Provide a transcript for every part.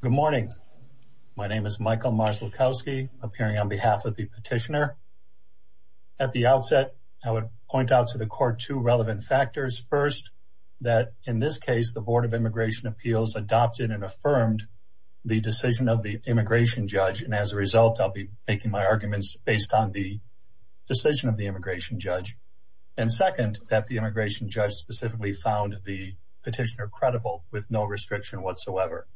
Good morning. My name is Michael Marszalkowski, appearing on behalf of the petitioner. At the outset, I would point out to the court two relevant factors. First, that in this case, the Board of Immigration Appeals adopted and affirmed the decision of the immigration judge. And as a result, I'll be making my arguments based on the decision of the immigration judge. And second, that the immigration judge specifically found the petitioner with no restriction whatsoever.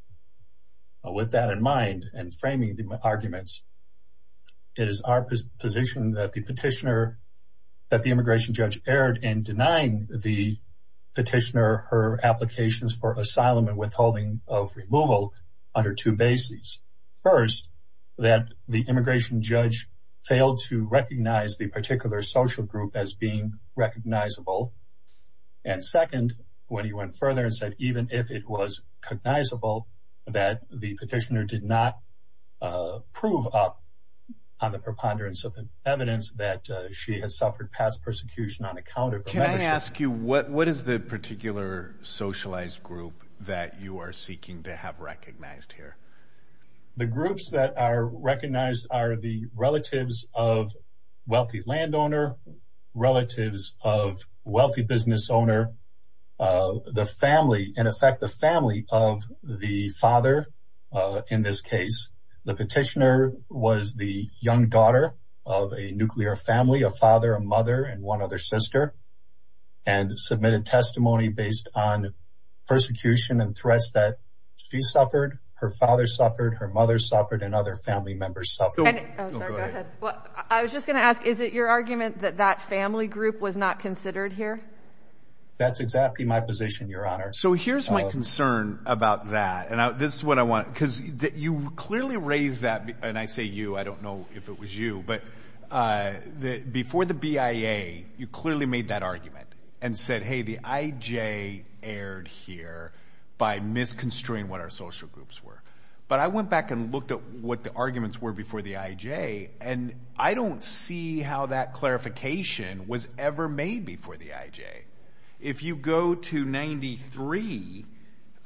With that in mind, and framing the arguments, it is our position that the petitioner, that the immigration judge erred in denying the petitioner her applications for asylum and withholding of removal under two bases. First, that the immigration judge failed to recognize the particular social group as being recognizable. And second, when he went further and said, even if it was cognizable that the petitioner did not prove up on the preponderance of evidence that she has suffered past persecution on account of... Can I ask you, what is the particular socialized group that you are seeking to have recognized here? The groups that are recognized are the relatives of wealthy landowner, relatives of wealthy business owner, the family, in effect, the family of the father, in this case. The petitioner was the young daughter of a nuclear family, a father, a mother, and one other sister, and submitted testimony based on persecution and threats that she suffered, her father suffered, her mother suffered, and other family members suffered. And... Oh, sorry, go ahead. I was just gonna ask, is it your argument that that family group was not considered here? That's exactly my position, Your Honor. So here's my concern about that, and this is what I want, because you clearly raised that, and I say you, I don't know if it was you, but before the BIA, you clearly made that argument and said, hey, the IJ erred here by misconstruing what our social groups were. But I went back and looked at what the arguments were before the IJ, and I don't see how that clarification was ever made before the IJ. If you go to 93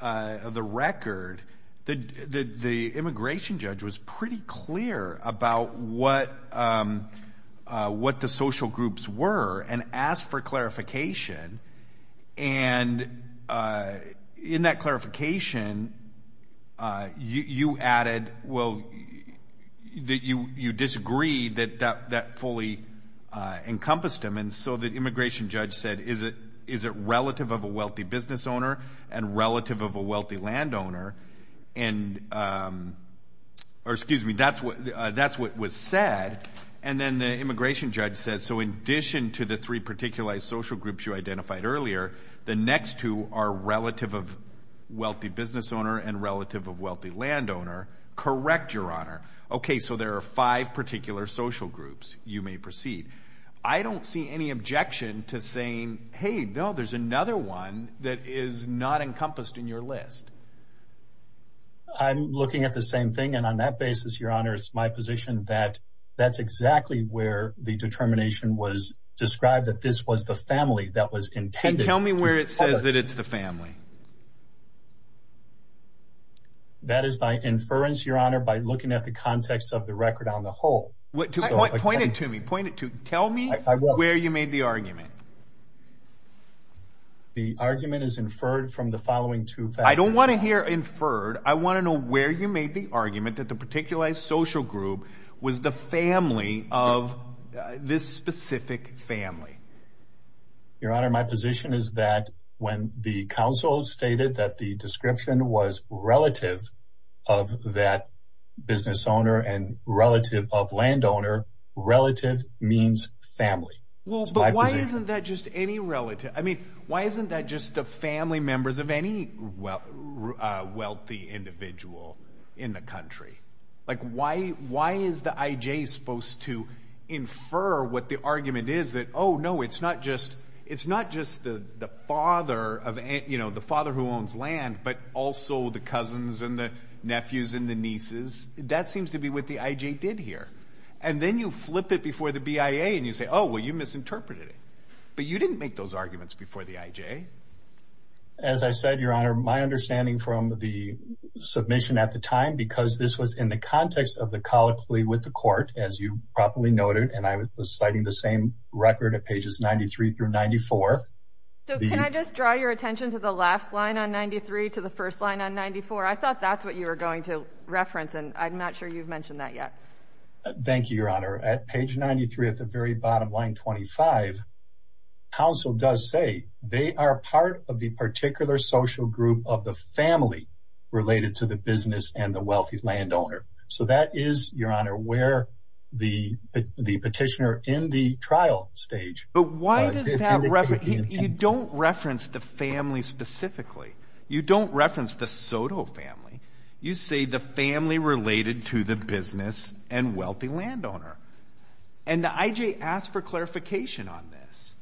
of the record, the immigration judge was pretty clear about what the social groups were, and asked for clarification, and in that clarification, you added, well, you disagreed that that fully encompassed them, and so the immigration judge said, is it relative of a wealthy business owner and relative of a wealthy land owner? And... Or excuse me, that's what was said, and then the immigration judge says, so in addition to the three particularized social groups you identified earlier, the next two are relative of wealthy business owner and relative of wealthy land owner. Correct, Your Honor. Okay, so there are five particular social groups. You may proceed. I don't see any objection to saying, hey, no, there's another one that is not encompassed in your list. I'm looking at the same thing, and on that basis, Your Honor, it's my position that that's exactly where the determination was described, that this was the family that was intended to... And tell me where it says that it's the family. That is my inference, Your Honor, by looking at the context of the record on the whole. Point it to me, point it to... Tell me where you made the argument. The argument is inferred from the following two... I don't wanna hear inferred, I wanna know where you made the argument that the particularized social group was the family of this specific family. Your Honor, my position is that when the counsel stated that the description was relative of that business owner and relative of land owner, relative means family. Well, but why isn't that just any relative? I mean, why isn't that just the family members of any wealthy individual in the country? Why is the IJ supposed to infer what the argument is that, oh no, it's not just the father who owns land, but also the cousins and the nephews and the nieces? That seems to be what the IJ did here. And then you flip it before the BIA and you say, oh, well, you misinterpreted it. But you didn't make those arguments before the IJ. As I said, Your Honor, my understanding from the submission at the time, because this was in the context of the colloquy with the court, as you probably noted, and I was citing the same record at pages 93 through 94... So can I just draw your attention to the last line on 93 to the first line on 94? I thought that's what you were going to reference and I'm not sure you've mentioned that yet. Thank you, Your Honor. At page 93 at the very bottom line 25, counsel does say, they are part of the particular social group of the family related to the business and the wealthy land owner. So that is, Your Honor, where the petitioner in the trial stage... But why does that... You don't reference the family specifically. You don't reference the Soto family. You say the family related to the business and wealthy land owner. And the IJ asked for clarification on this.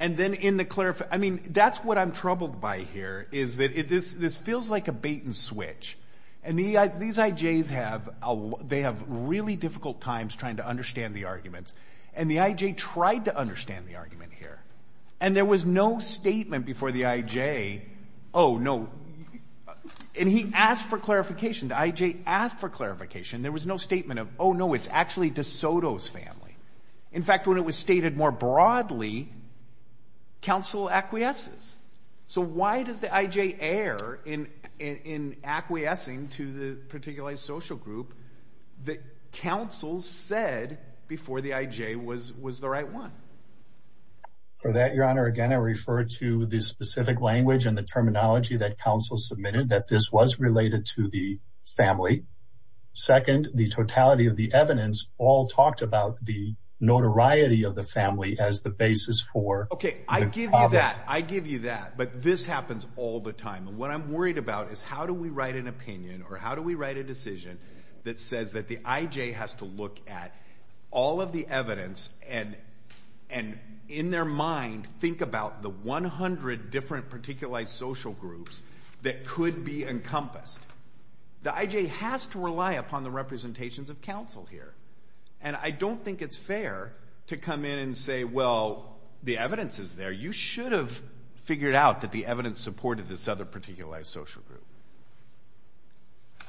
And then in the... That's what I'm troubled by here, is that this feels like a bait and switch. And these IJs have... They have really difficult times trying to understand the arguments. And the IJ tried to understand the argument here. And there was no statement before the IJ, oh, no... And he asked for clarification. The IJ asked for clarification. There was no statement of, oh, no, it's actually De Soto's family. In fact, when it was stated more broadly, counsel acquiesces. So why does the IJ err in acquiescing to the particular social group that counsel said before the IJ was the right one? For that, Your Honor, again, I refer to the specific language and the terminology that counsel submitted, that this was related to the family second, the totality of the evidence all talked about the notoriety of the family as the basis for... Okay, I give you that. I give you that. But this happens all the time. And what I'm worried about is how do we write an opinion or how do we write a decision that says that the IJ has to look at all of the evidence and in their mind, think about the 100 different particular social groups that could be encompassed. The IJ has to rely upon the representations of counsel here. And I don't think it's fair to come in and say, well, the evidence is there. You should have figured out that the evidence supported this other particular social group.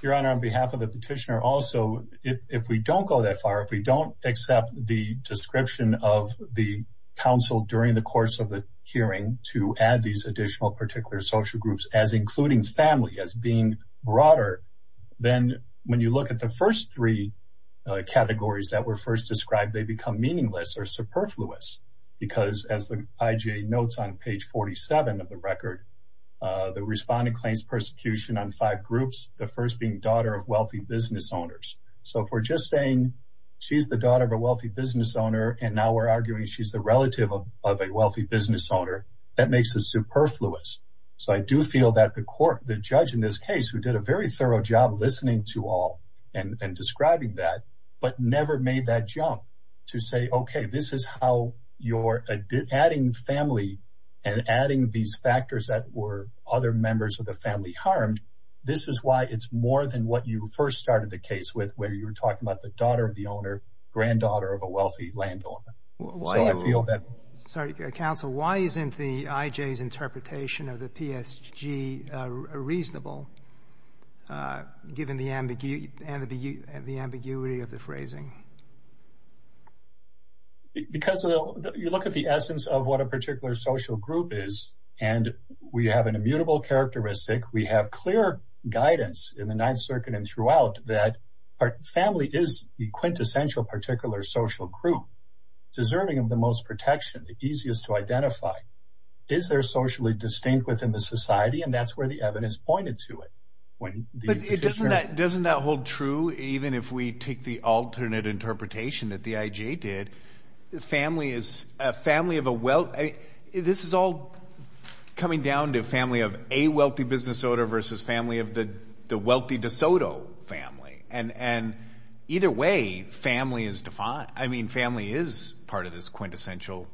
Your Honor, on behalf of the petitioner also, if we don't go that far, if we don't accept the description of the counsel during the course of the hearing to add these additional particular social groups as including family, as being broader, then when you look at the first three categories that were first described, they become meaningless or superfluous. Because as the IJ notes on page 47 of the record, the respondent claims persecution on five groups, the first being daughter of wealthy business owners. So if we're just saying she's the daughter of a wealthy business owner and now we're arguing she's the relative of a wealthy business owner, that makes us superfluous. So I do feel that the court, the judge in this case, who did a very thorough job listening to all and describing that, but never made that jump to say, okay, this is how you're adding family and adding these factors that were other members of the family harmed. This is why it's more than what you first started the case with, where you were talking about the daughter of the owner, granddaughter of a wealthy landowner. So I feel that... Counsel, why isn't the IJ's interpretation of the PSG reasonable, given the ambiguity of the phrasing? Because you look at the essence of what a particular social group is, and we have an immutable characteristic. We have clear guidance in the Ninth Circuit and throughout that family is the quintessential particular social group, deserving of the most protection, the easiest to identify. Is there socially distinct within the society? And that's where the evidence pointed to it. But doesn't that hold true even if we take the alternate interpretation that the IJ did? Family is a family of a wealth... This is all coming down to family of a wealthy business owner versus family of the wealthy de Soto family. And either way, family is defined. I mean, family is part of this quintessential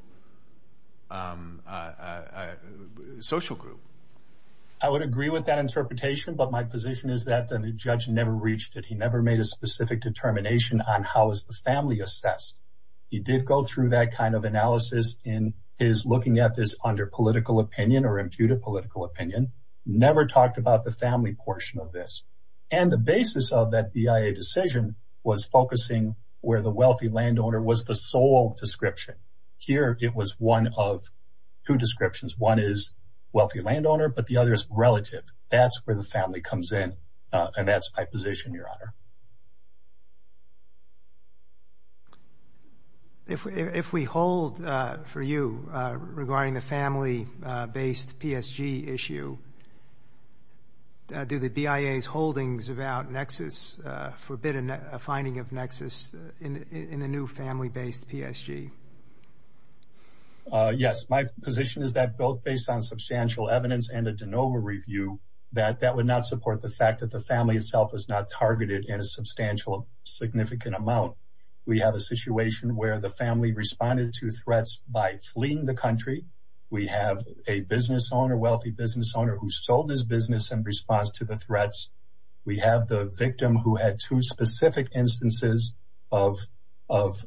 social group. I would agree with that interpretation, but my position is that the judge never reached it. He never made a specific determination on how is the family assessed. He did go through that kind of analysis in his looking at this under political opinion or imputed political opinion, never talked about the family portion of this. And the basis of that BIA decision was focusing where the wealthy landowner was the sole description. Here, it was one of two descriptions. One is wealthy landowner, but the other is relative. That's where the family comes in. And that's my position, Your Honor. If we hold for you regarding the family based PSG issue, do the BIA's holdings about nexus, forbid a finding of nexus in the new family based PSG? Yes, my position is that both based on substantial evidence and a de novo review that that would not support the fact that the family itself was not targeted in a substantial, significant amount. We have a situation where the family responded to threats by fleeing the country. We have a business owner, wealthy business owner who sold his business in response to the threats. We have the victim who had two specific instances of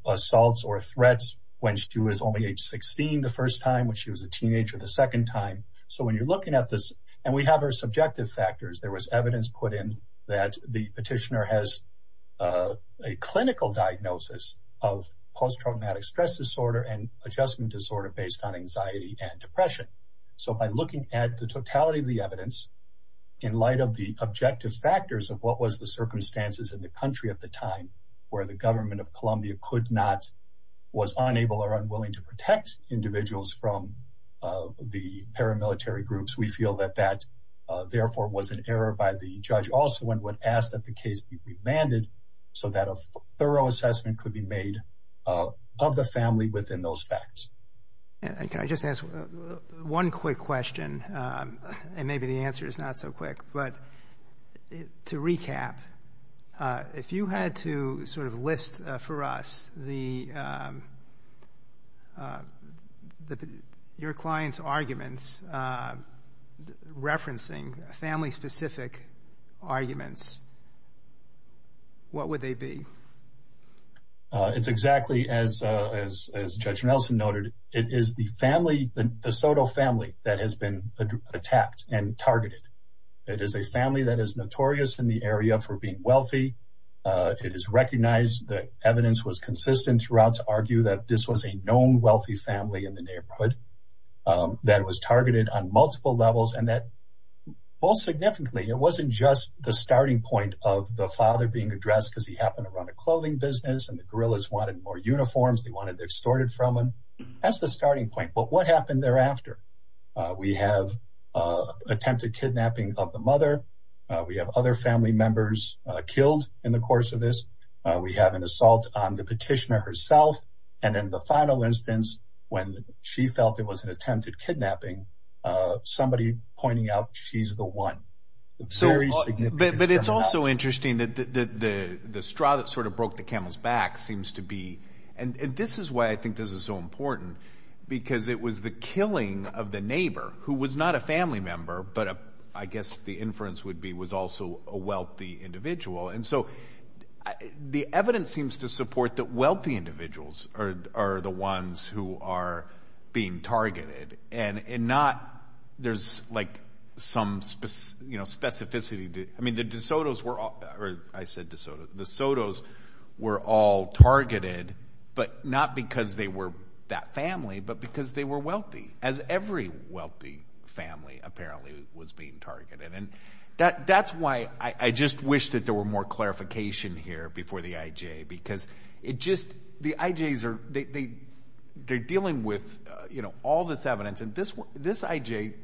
assaults or threats when she was only age 16 the first time when she was a teenager the second time. So when you're looking at this and we have our subjective factors, there was evidence put in that the petitioner has a clinical diagnosis of post traumatic stress disorder and adjustment disorder based on anxiety and depression. So by looking at the totality of the evidence in light of the objective factors of what was the circumstances in the country at the time where the government of Columbia could not, was unable or unwilling to protect individuals from the paramilitary groups, we feel that that therefore was an error by the judge also and would ask that the case be remanded so that a thorough assessment could be made of the family within those facts. And can I just ask one quick question? Um, and maybe the answer is not so quick, but to recap, if you had to sort of list for us the, um, uh, your client's arguments, uh, referencing family specific arguments, what would they be? Uh, it's exactly as, uh, as, as judge Nelson noted, it is the family, the Soto family that has been attacked and targeted. It is a family that is notorious in the area for being wealthy. Uh, it is recognized that evidence was consistent throughout to argue that this was a known wealthy family in the neighborhood, um, that was targeted on multiple levels and that most significantly, it wasn't just the starting point of the father being addressed because he happened to run a clothing business and the gorillas wanted more uniforms. They wanted their started from him. That's the starting point. But what happened thereafter? We have, uh, attempted kidnapping of the mother. We have other family members killed in the course of this. We have an assault on the petitioner herself. And in the final instance, when she felt it was an attempted kidnapping, uh, somebody pointing out she's the one. So, but it's also interesting that the straw that sort of broke the camel's back seems to be, and this is why I think this is so important because it was the killing of the neighbor who was not a family member, but I guess the inference would be was also a wealthy individual. And so the evidence seems to support that wealthy individuals are the ones who are being targeted. I mean, the DeSotos were all, I said DeSotos, the DeSotos were all targeted, but not because they were that family, but because they were wealthy, as every wealthy family apparently was being targeted. And that's why I just wish that there were more clarification here before the IJ, because it just, the IJs are, they, they, they're dealing with, uh, you know, this, this IJ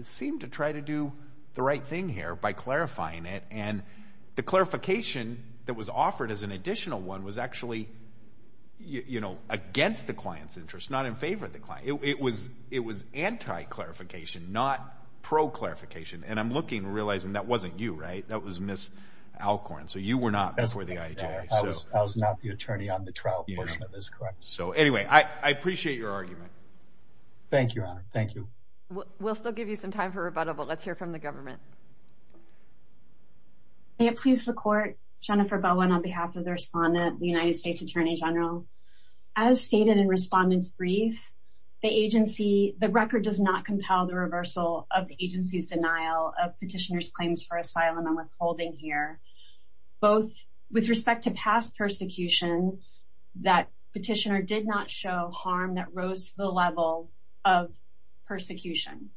seemed to try to do the right thing here by clarifying it. And the clarification that was offered as an additional one was actually, you know, against the client's interests, not in favor of the client. It was, it was anti-clarification, not pro-clarification. And I'm looking, realizing that wasn't you, right? That was Ms. Alcorn. So you were not before the IJ. I was not the attorney on the trial. So anyway, I appreciate your time. Thank you. We'll still give you some time for rebuttal, but let's hear from the government. May it please the court. Jennifer Bowen on behalf of the respondent, the United States Attorney General. As stated in respondent's brief, the agency, the record does not compel the reversal of the agency's denial of petitioner's claims for asylum and withholding here. Both with respect to past persecution, that petitioner did not show harm that rose to the level of persecution.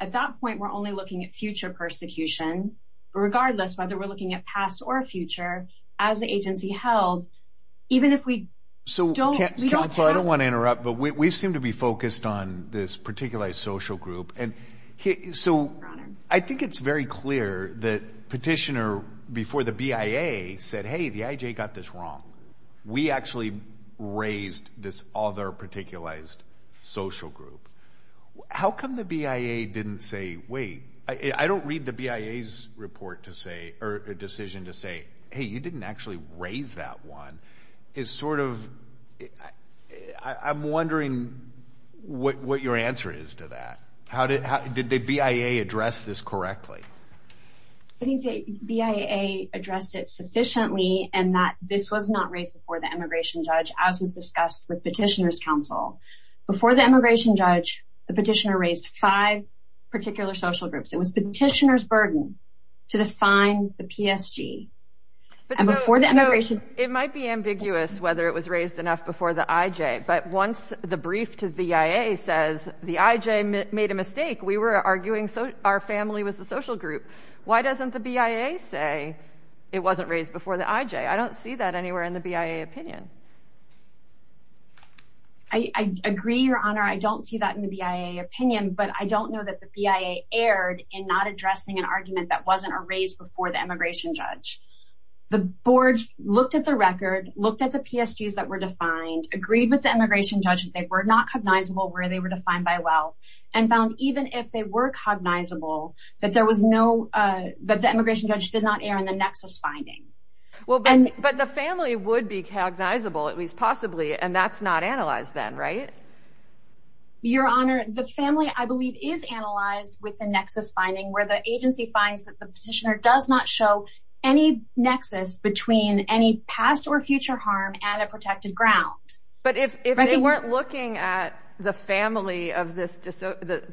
At that point, we're only looking at future persecution, regardless whether we're looking at past or future, as the agency held, even if we don't, we don't. Counsel, I don't want to interrupt, but we seem to be focused on this particular social group. And so I think it's very clear that petitioner before the BIA said, hey, the IJ got this wrong. We actually raised this other particularized social group. How come the BIA didn't say, wait, I don't read the BIA's report to say, or decision to say, hey, you didn't actually raise that one. It's sort of, I'm wondering what your answer is to that. How did the BIA address this correctly? I think the BIA addressed it sufficiently and that this was not raised before the immigration judge, as was discussed with petitioner's counsel. Before the immigration judge, the petitioner raised five particular social groups. It was petitioner's burden to define the PSG. And before the immigration... It might be ambiguous whether it was raised enough before the IJ, but once the brief to the BIA says the IJ made a mistake, we were arguing our family was the social group. Why doesn't the BIA say it wasn't raised before the IJ? I don't see that anywhere in the BIA opinion. I agree, Your Honor. I don't see that in the BIA opinion, but I don't know that the BIA erred in not addressing an argument that wasn't raised before the immigration judge. The boards looked at the record, looked at the PSGs that were defined, agreed with the immigration judge that they were not cognizable where they were defined by well, and found even if they were cognizable, that there was no... That the immigration judge did not err in the nexus finding. Well, but the family would be cognizable, at least possibly, and that's not analyzed then, right? Your Honor, the family, I believe, is analyzed with the nexus finding where the agency finds that the petitioner does not show any nexus between any past or future harm and a protected ground. But if they weren't looking at the family of this...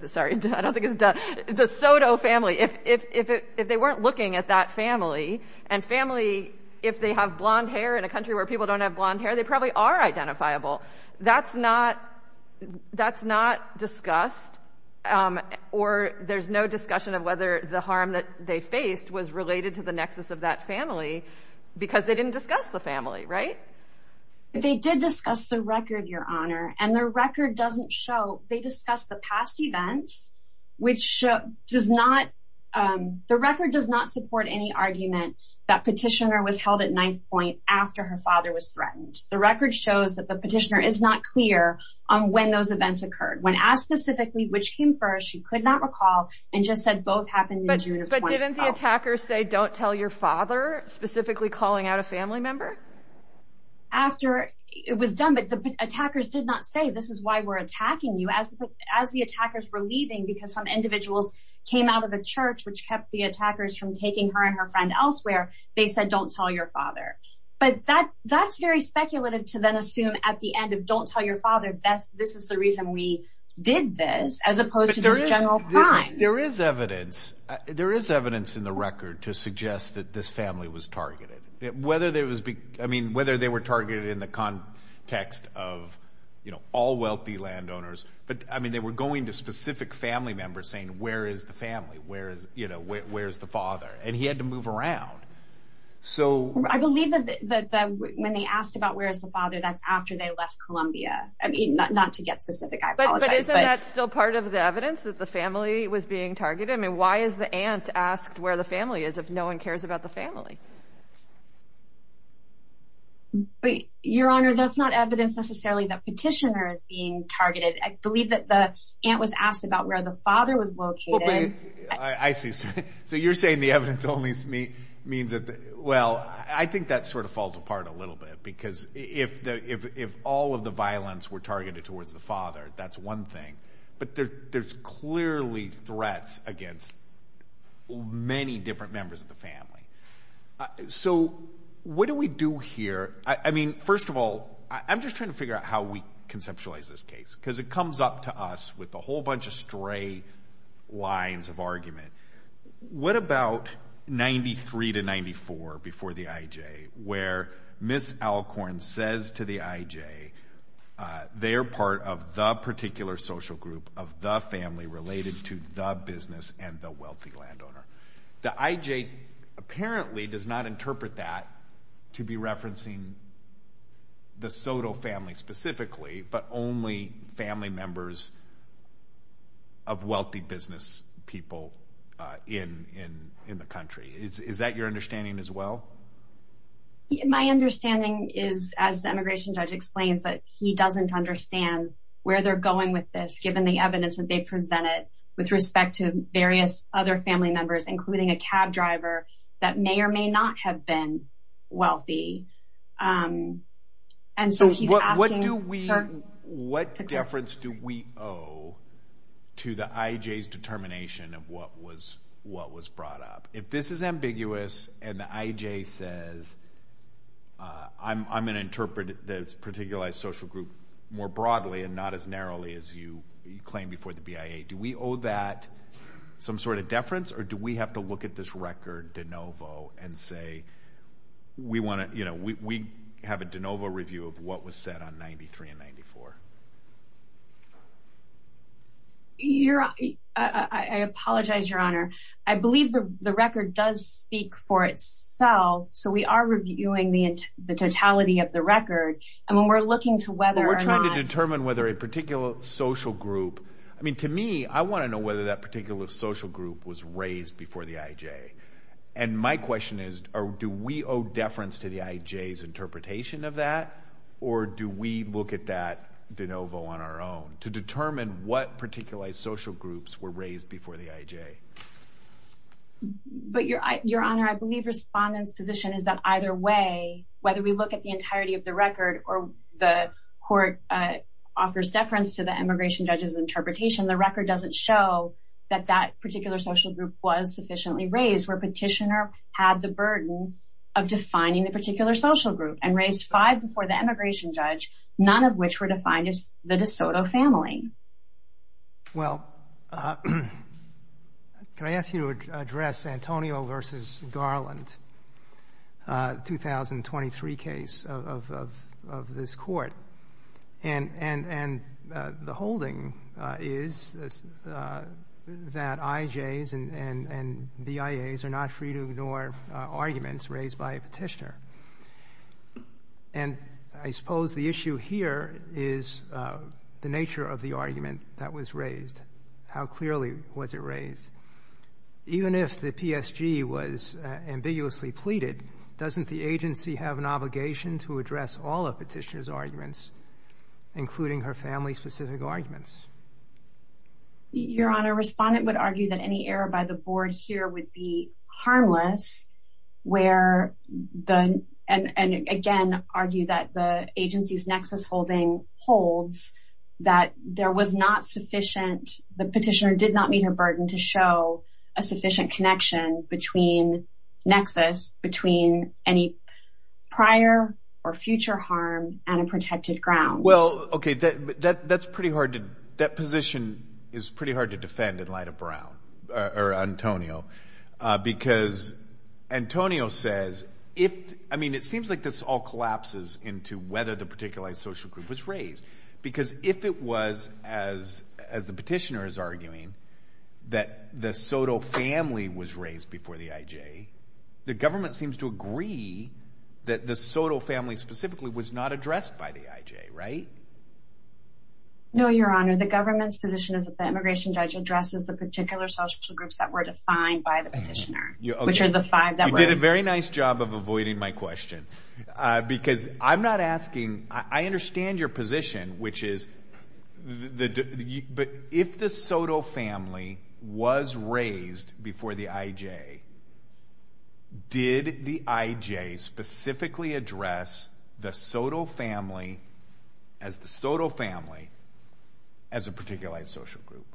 Sorry, I don't think the Soto family. If they weren't looking at that family, and family, if they have blonde hair in a country where people don't have blonde hair, they probably are identifiable. That's not discussed, or there's no discussion of whether the harm that they faced was related to the nexus of that family because they didn't discuss the family, right? They did discuss the record, Your Honor, of past events, which does not... The record does not support any argument that petitioner was held at knife point after her father was threatened. The record shows that the petitioner is not clear on when those events occurred. When asked specifically which came first, she could not recall and just said both happened in June of 2012. But didn't the attackers say, don't tell your father, specifically calling out a family member? After it was done, but the attackers did not say, this is why we're attacking you. As the attackers were leaving, because some individuals came out of the church, which kept the attackers from taking her and her friend elsewhere, they said, don't tell your father. But that's very speculative to then assume at the end of don't tell your father, this is the reason we did this, as opposed to this general crime. There is evidence in the record to suggest that this family was targeted. Whether they were targeted in the context of all wealthy landowners, but they were going to specific family members saying, where is the family? Where is the father? And he had to move around. I believe that when they asked about where is the father, that's after they left Columbia. Not to get specific, I apologize. But isn't that still part of the evidence that the family was being targeted? Why is the aunt asked where the family is if no one cares about the family? Your Honor, that's not evidence necessarily that believe that the aunt was asked about where the father was located. I see. So you're saying the evidence only means that? Well, I think that sort of falls apart a little bit because if all of the violence were targeted towards the father, that's one thing. But there's clearly threats against many different members of the family. So what do we do here? I mean, first of all, I'm just trying to figure out how we conceptualize this case. Because it comes up to us with a whole bunch of stray lines of argument. What about 93 to 94 before the IJ, where Ms. Alcorn says to the IJ, they're part of the particular social group of the family related to the business and the wealthy landowner. The IJ apparently does not interpret that to be referencing the family specifically, but only family members of wealthy business people in the country. Is that your understanding as well? My understanding is, as the immigration judge explains that he doesn't understand where they're going with this, given the evidence that they presented with respect to various other family members, including a cab driver that may or may not have been wealthy. And so he's asking... What do we... What deference do we owe to the IJ's determination of what was brought up? If this is ambiguous and the IJ says, I'm gonna interpret the particular social group more broadly and not as narrowly as you claim before the BIA, do we owe that some sort of breach record de novo and say, we wanna... We have a de novo review of what was said on 93 and 94. I apologize, Your Honor. I believe the record does speak for itself, so we are reviewing the totality of the record. And when we're looking to whether or not... We're trying to determine whether a particular social group... To me, I wanna know whether that particular social group was raised before the IJ. And my question is, do we owe deference to the IJ's interpretation of that, or do we look at that de novo on our own to determine what particular social groups were raised before the IJ? But Your Honor, I believe Respondent's position is that either way, whether we look at the entirety of the record or the court offers deference to the immigration judge's interpretation, the record doesn't show that that particular social group was sufficiently raised, where petitioner had the burden of defining the particular social group and raised five before the immigration judge, none of which were defined as the DeSoto family. Well, can I ask you to address Antonio versus Garland, 2023 case of this court? And the holding is that IJs and BIAs are not free to ignore arguments raised by a petitioner. And I suppose the issue here is the nature of the argument that was raised. How clearly was it raised? Even if the PSG was ambiguously pleaded, doesn't the agency have an obligation to address all of petitioner's arguments, including her family's specific arguments? Your Honor, Respondent would argue that any error by the board here would be harmless, and again, argue that the agency's nexus holding holds that there was not sufficient, the petitioner did not meet her burden to show a sufficient connection between nexus, between any prior or future harm and a protected ground. Well, okay, that's pretty hard to... That position is pretty hard to defend in light of Brown or Antonio, because Antonio says, if... I mean, it seems like this all collapses into whether the particular social group was raised. Because if it was, as the petitioner is arguing, that the Soto family was raised before the IJ, the government seems to agree that the Soto family specifically was not addressed by the IJ, right? No, Your Honor, the government's position is that the immigration judge addresses the particular social groups that were defined by the petitioner, which are the five that were... You did a very nice job of avoiding my question, because I'm not asking... I understand your position, which is... But if the Soto family was raised before the IJ, did the IJ specifically address the Soto family as the Soto family as a particularized social group?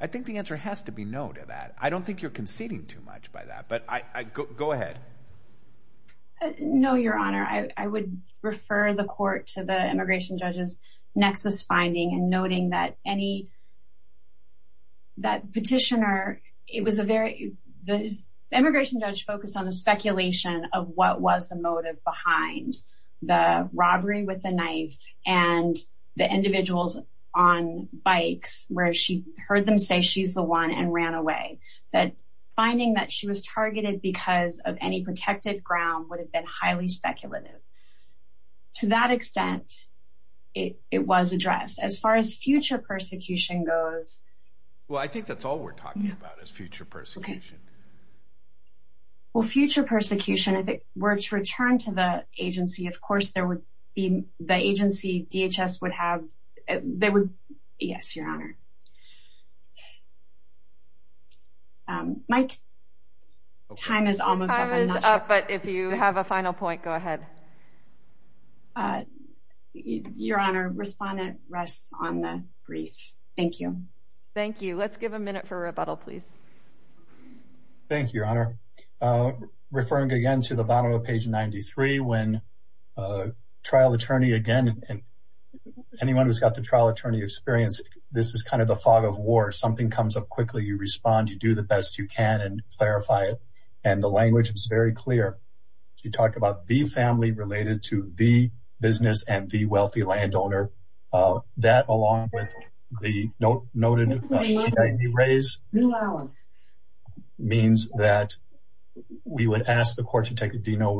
I think the answer has to be no to that. I don't think you're conceding too much by that, but I... Go ahead. No, Your Honor, I would refer the court to the immigration judge's nexus finding and noting that any... That petitioner, it was a very... The immigration judge focused on the speculation of what was the motive behind the robbery with the knife and the individuals on bikes, where she heard them say she's the one and ran away. That finding that she was targeted because of any protected ground would have been highly speculative. To that extent, it was addressed. As far as future persecution goes... Well, I think that's all we're talking about is future persecution. Okay. Well, future persecution, if it were to return to the agency, of course, there would be... The agency, DHS, would have... They would... Yes, Your Honor. Mike, time is almost up. Time is up, but if you have a final point, go ahead. Your Honor, respondent rests on the brief. Thank you. Thank you. Let's give a minute for rebuttal, please. Thank you, Your Honor. Referring again to the bottom of page 93, when a trial attorney again... Anyone who's got the trial attorney experience, this is kind of the fog of war. Something comes up quickly, you respond, you do the best you can and clarify it. And the language is very clear. She talked about the family related to the business and the wealthy landowner. That, along with the noted CID raise means that we would ask the court to take a de novo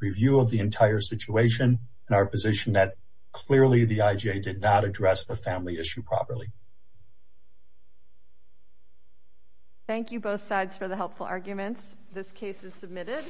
review of the entire situation and our position that clearly the IJA did not address the family issue properly. Thank you, both sides, for the helpful arguments. This case is submitted.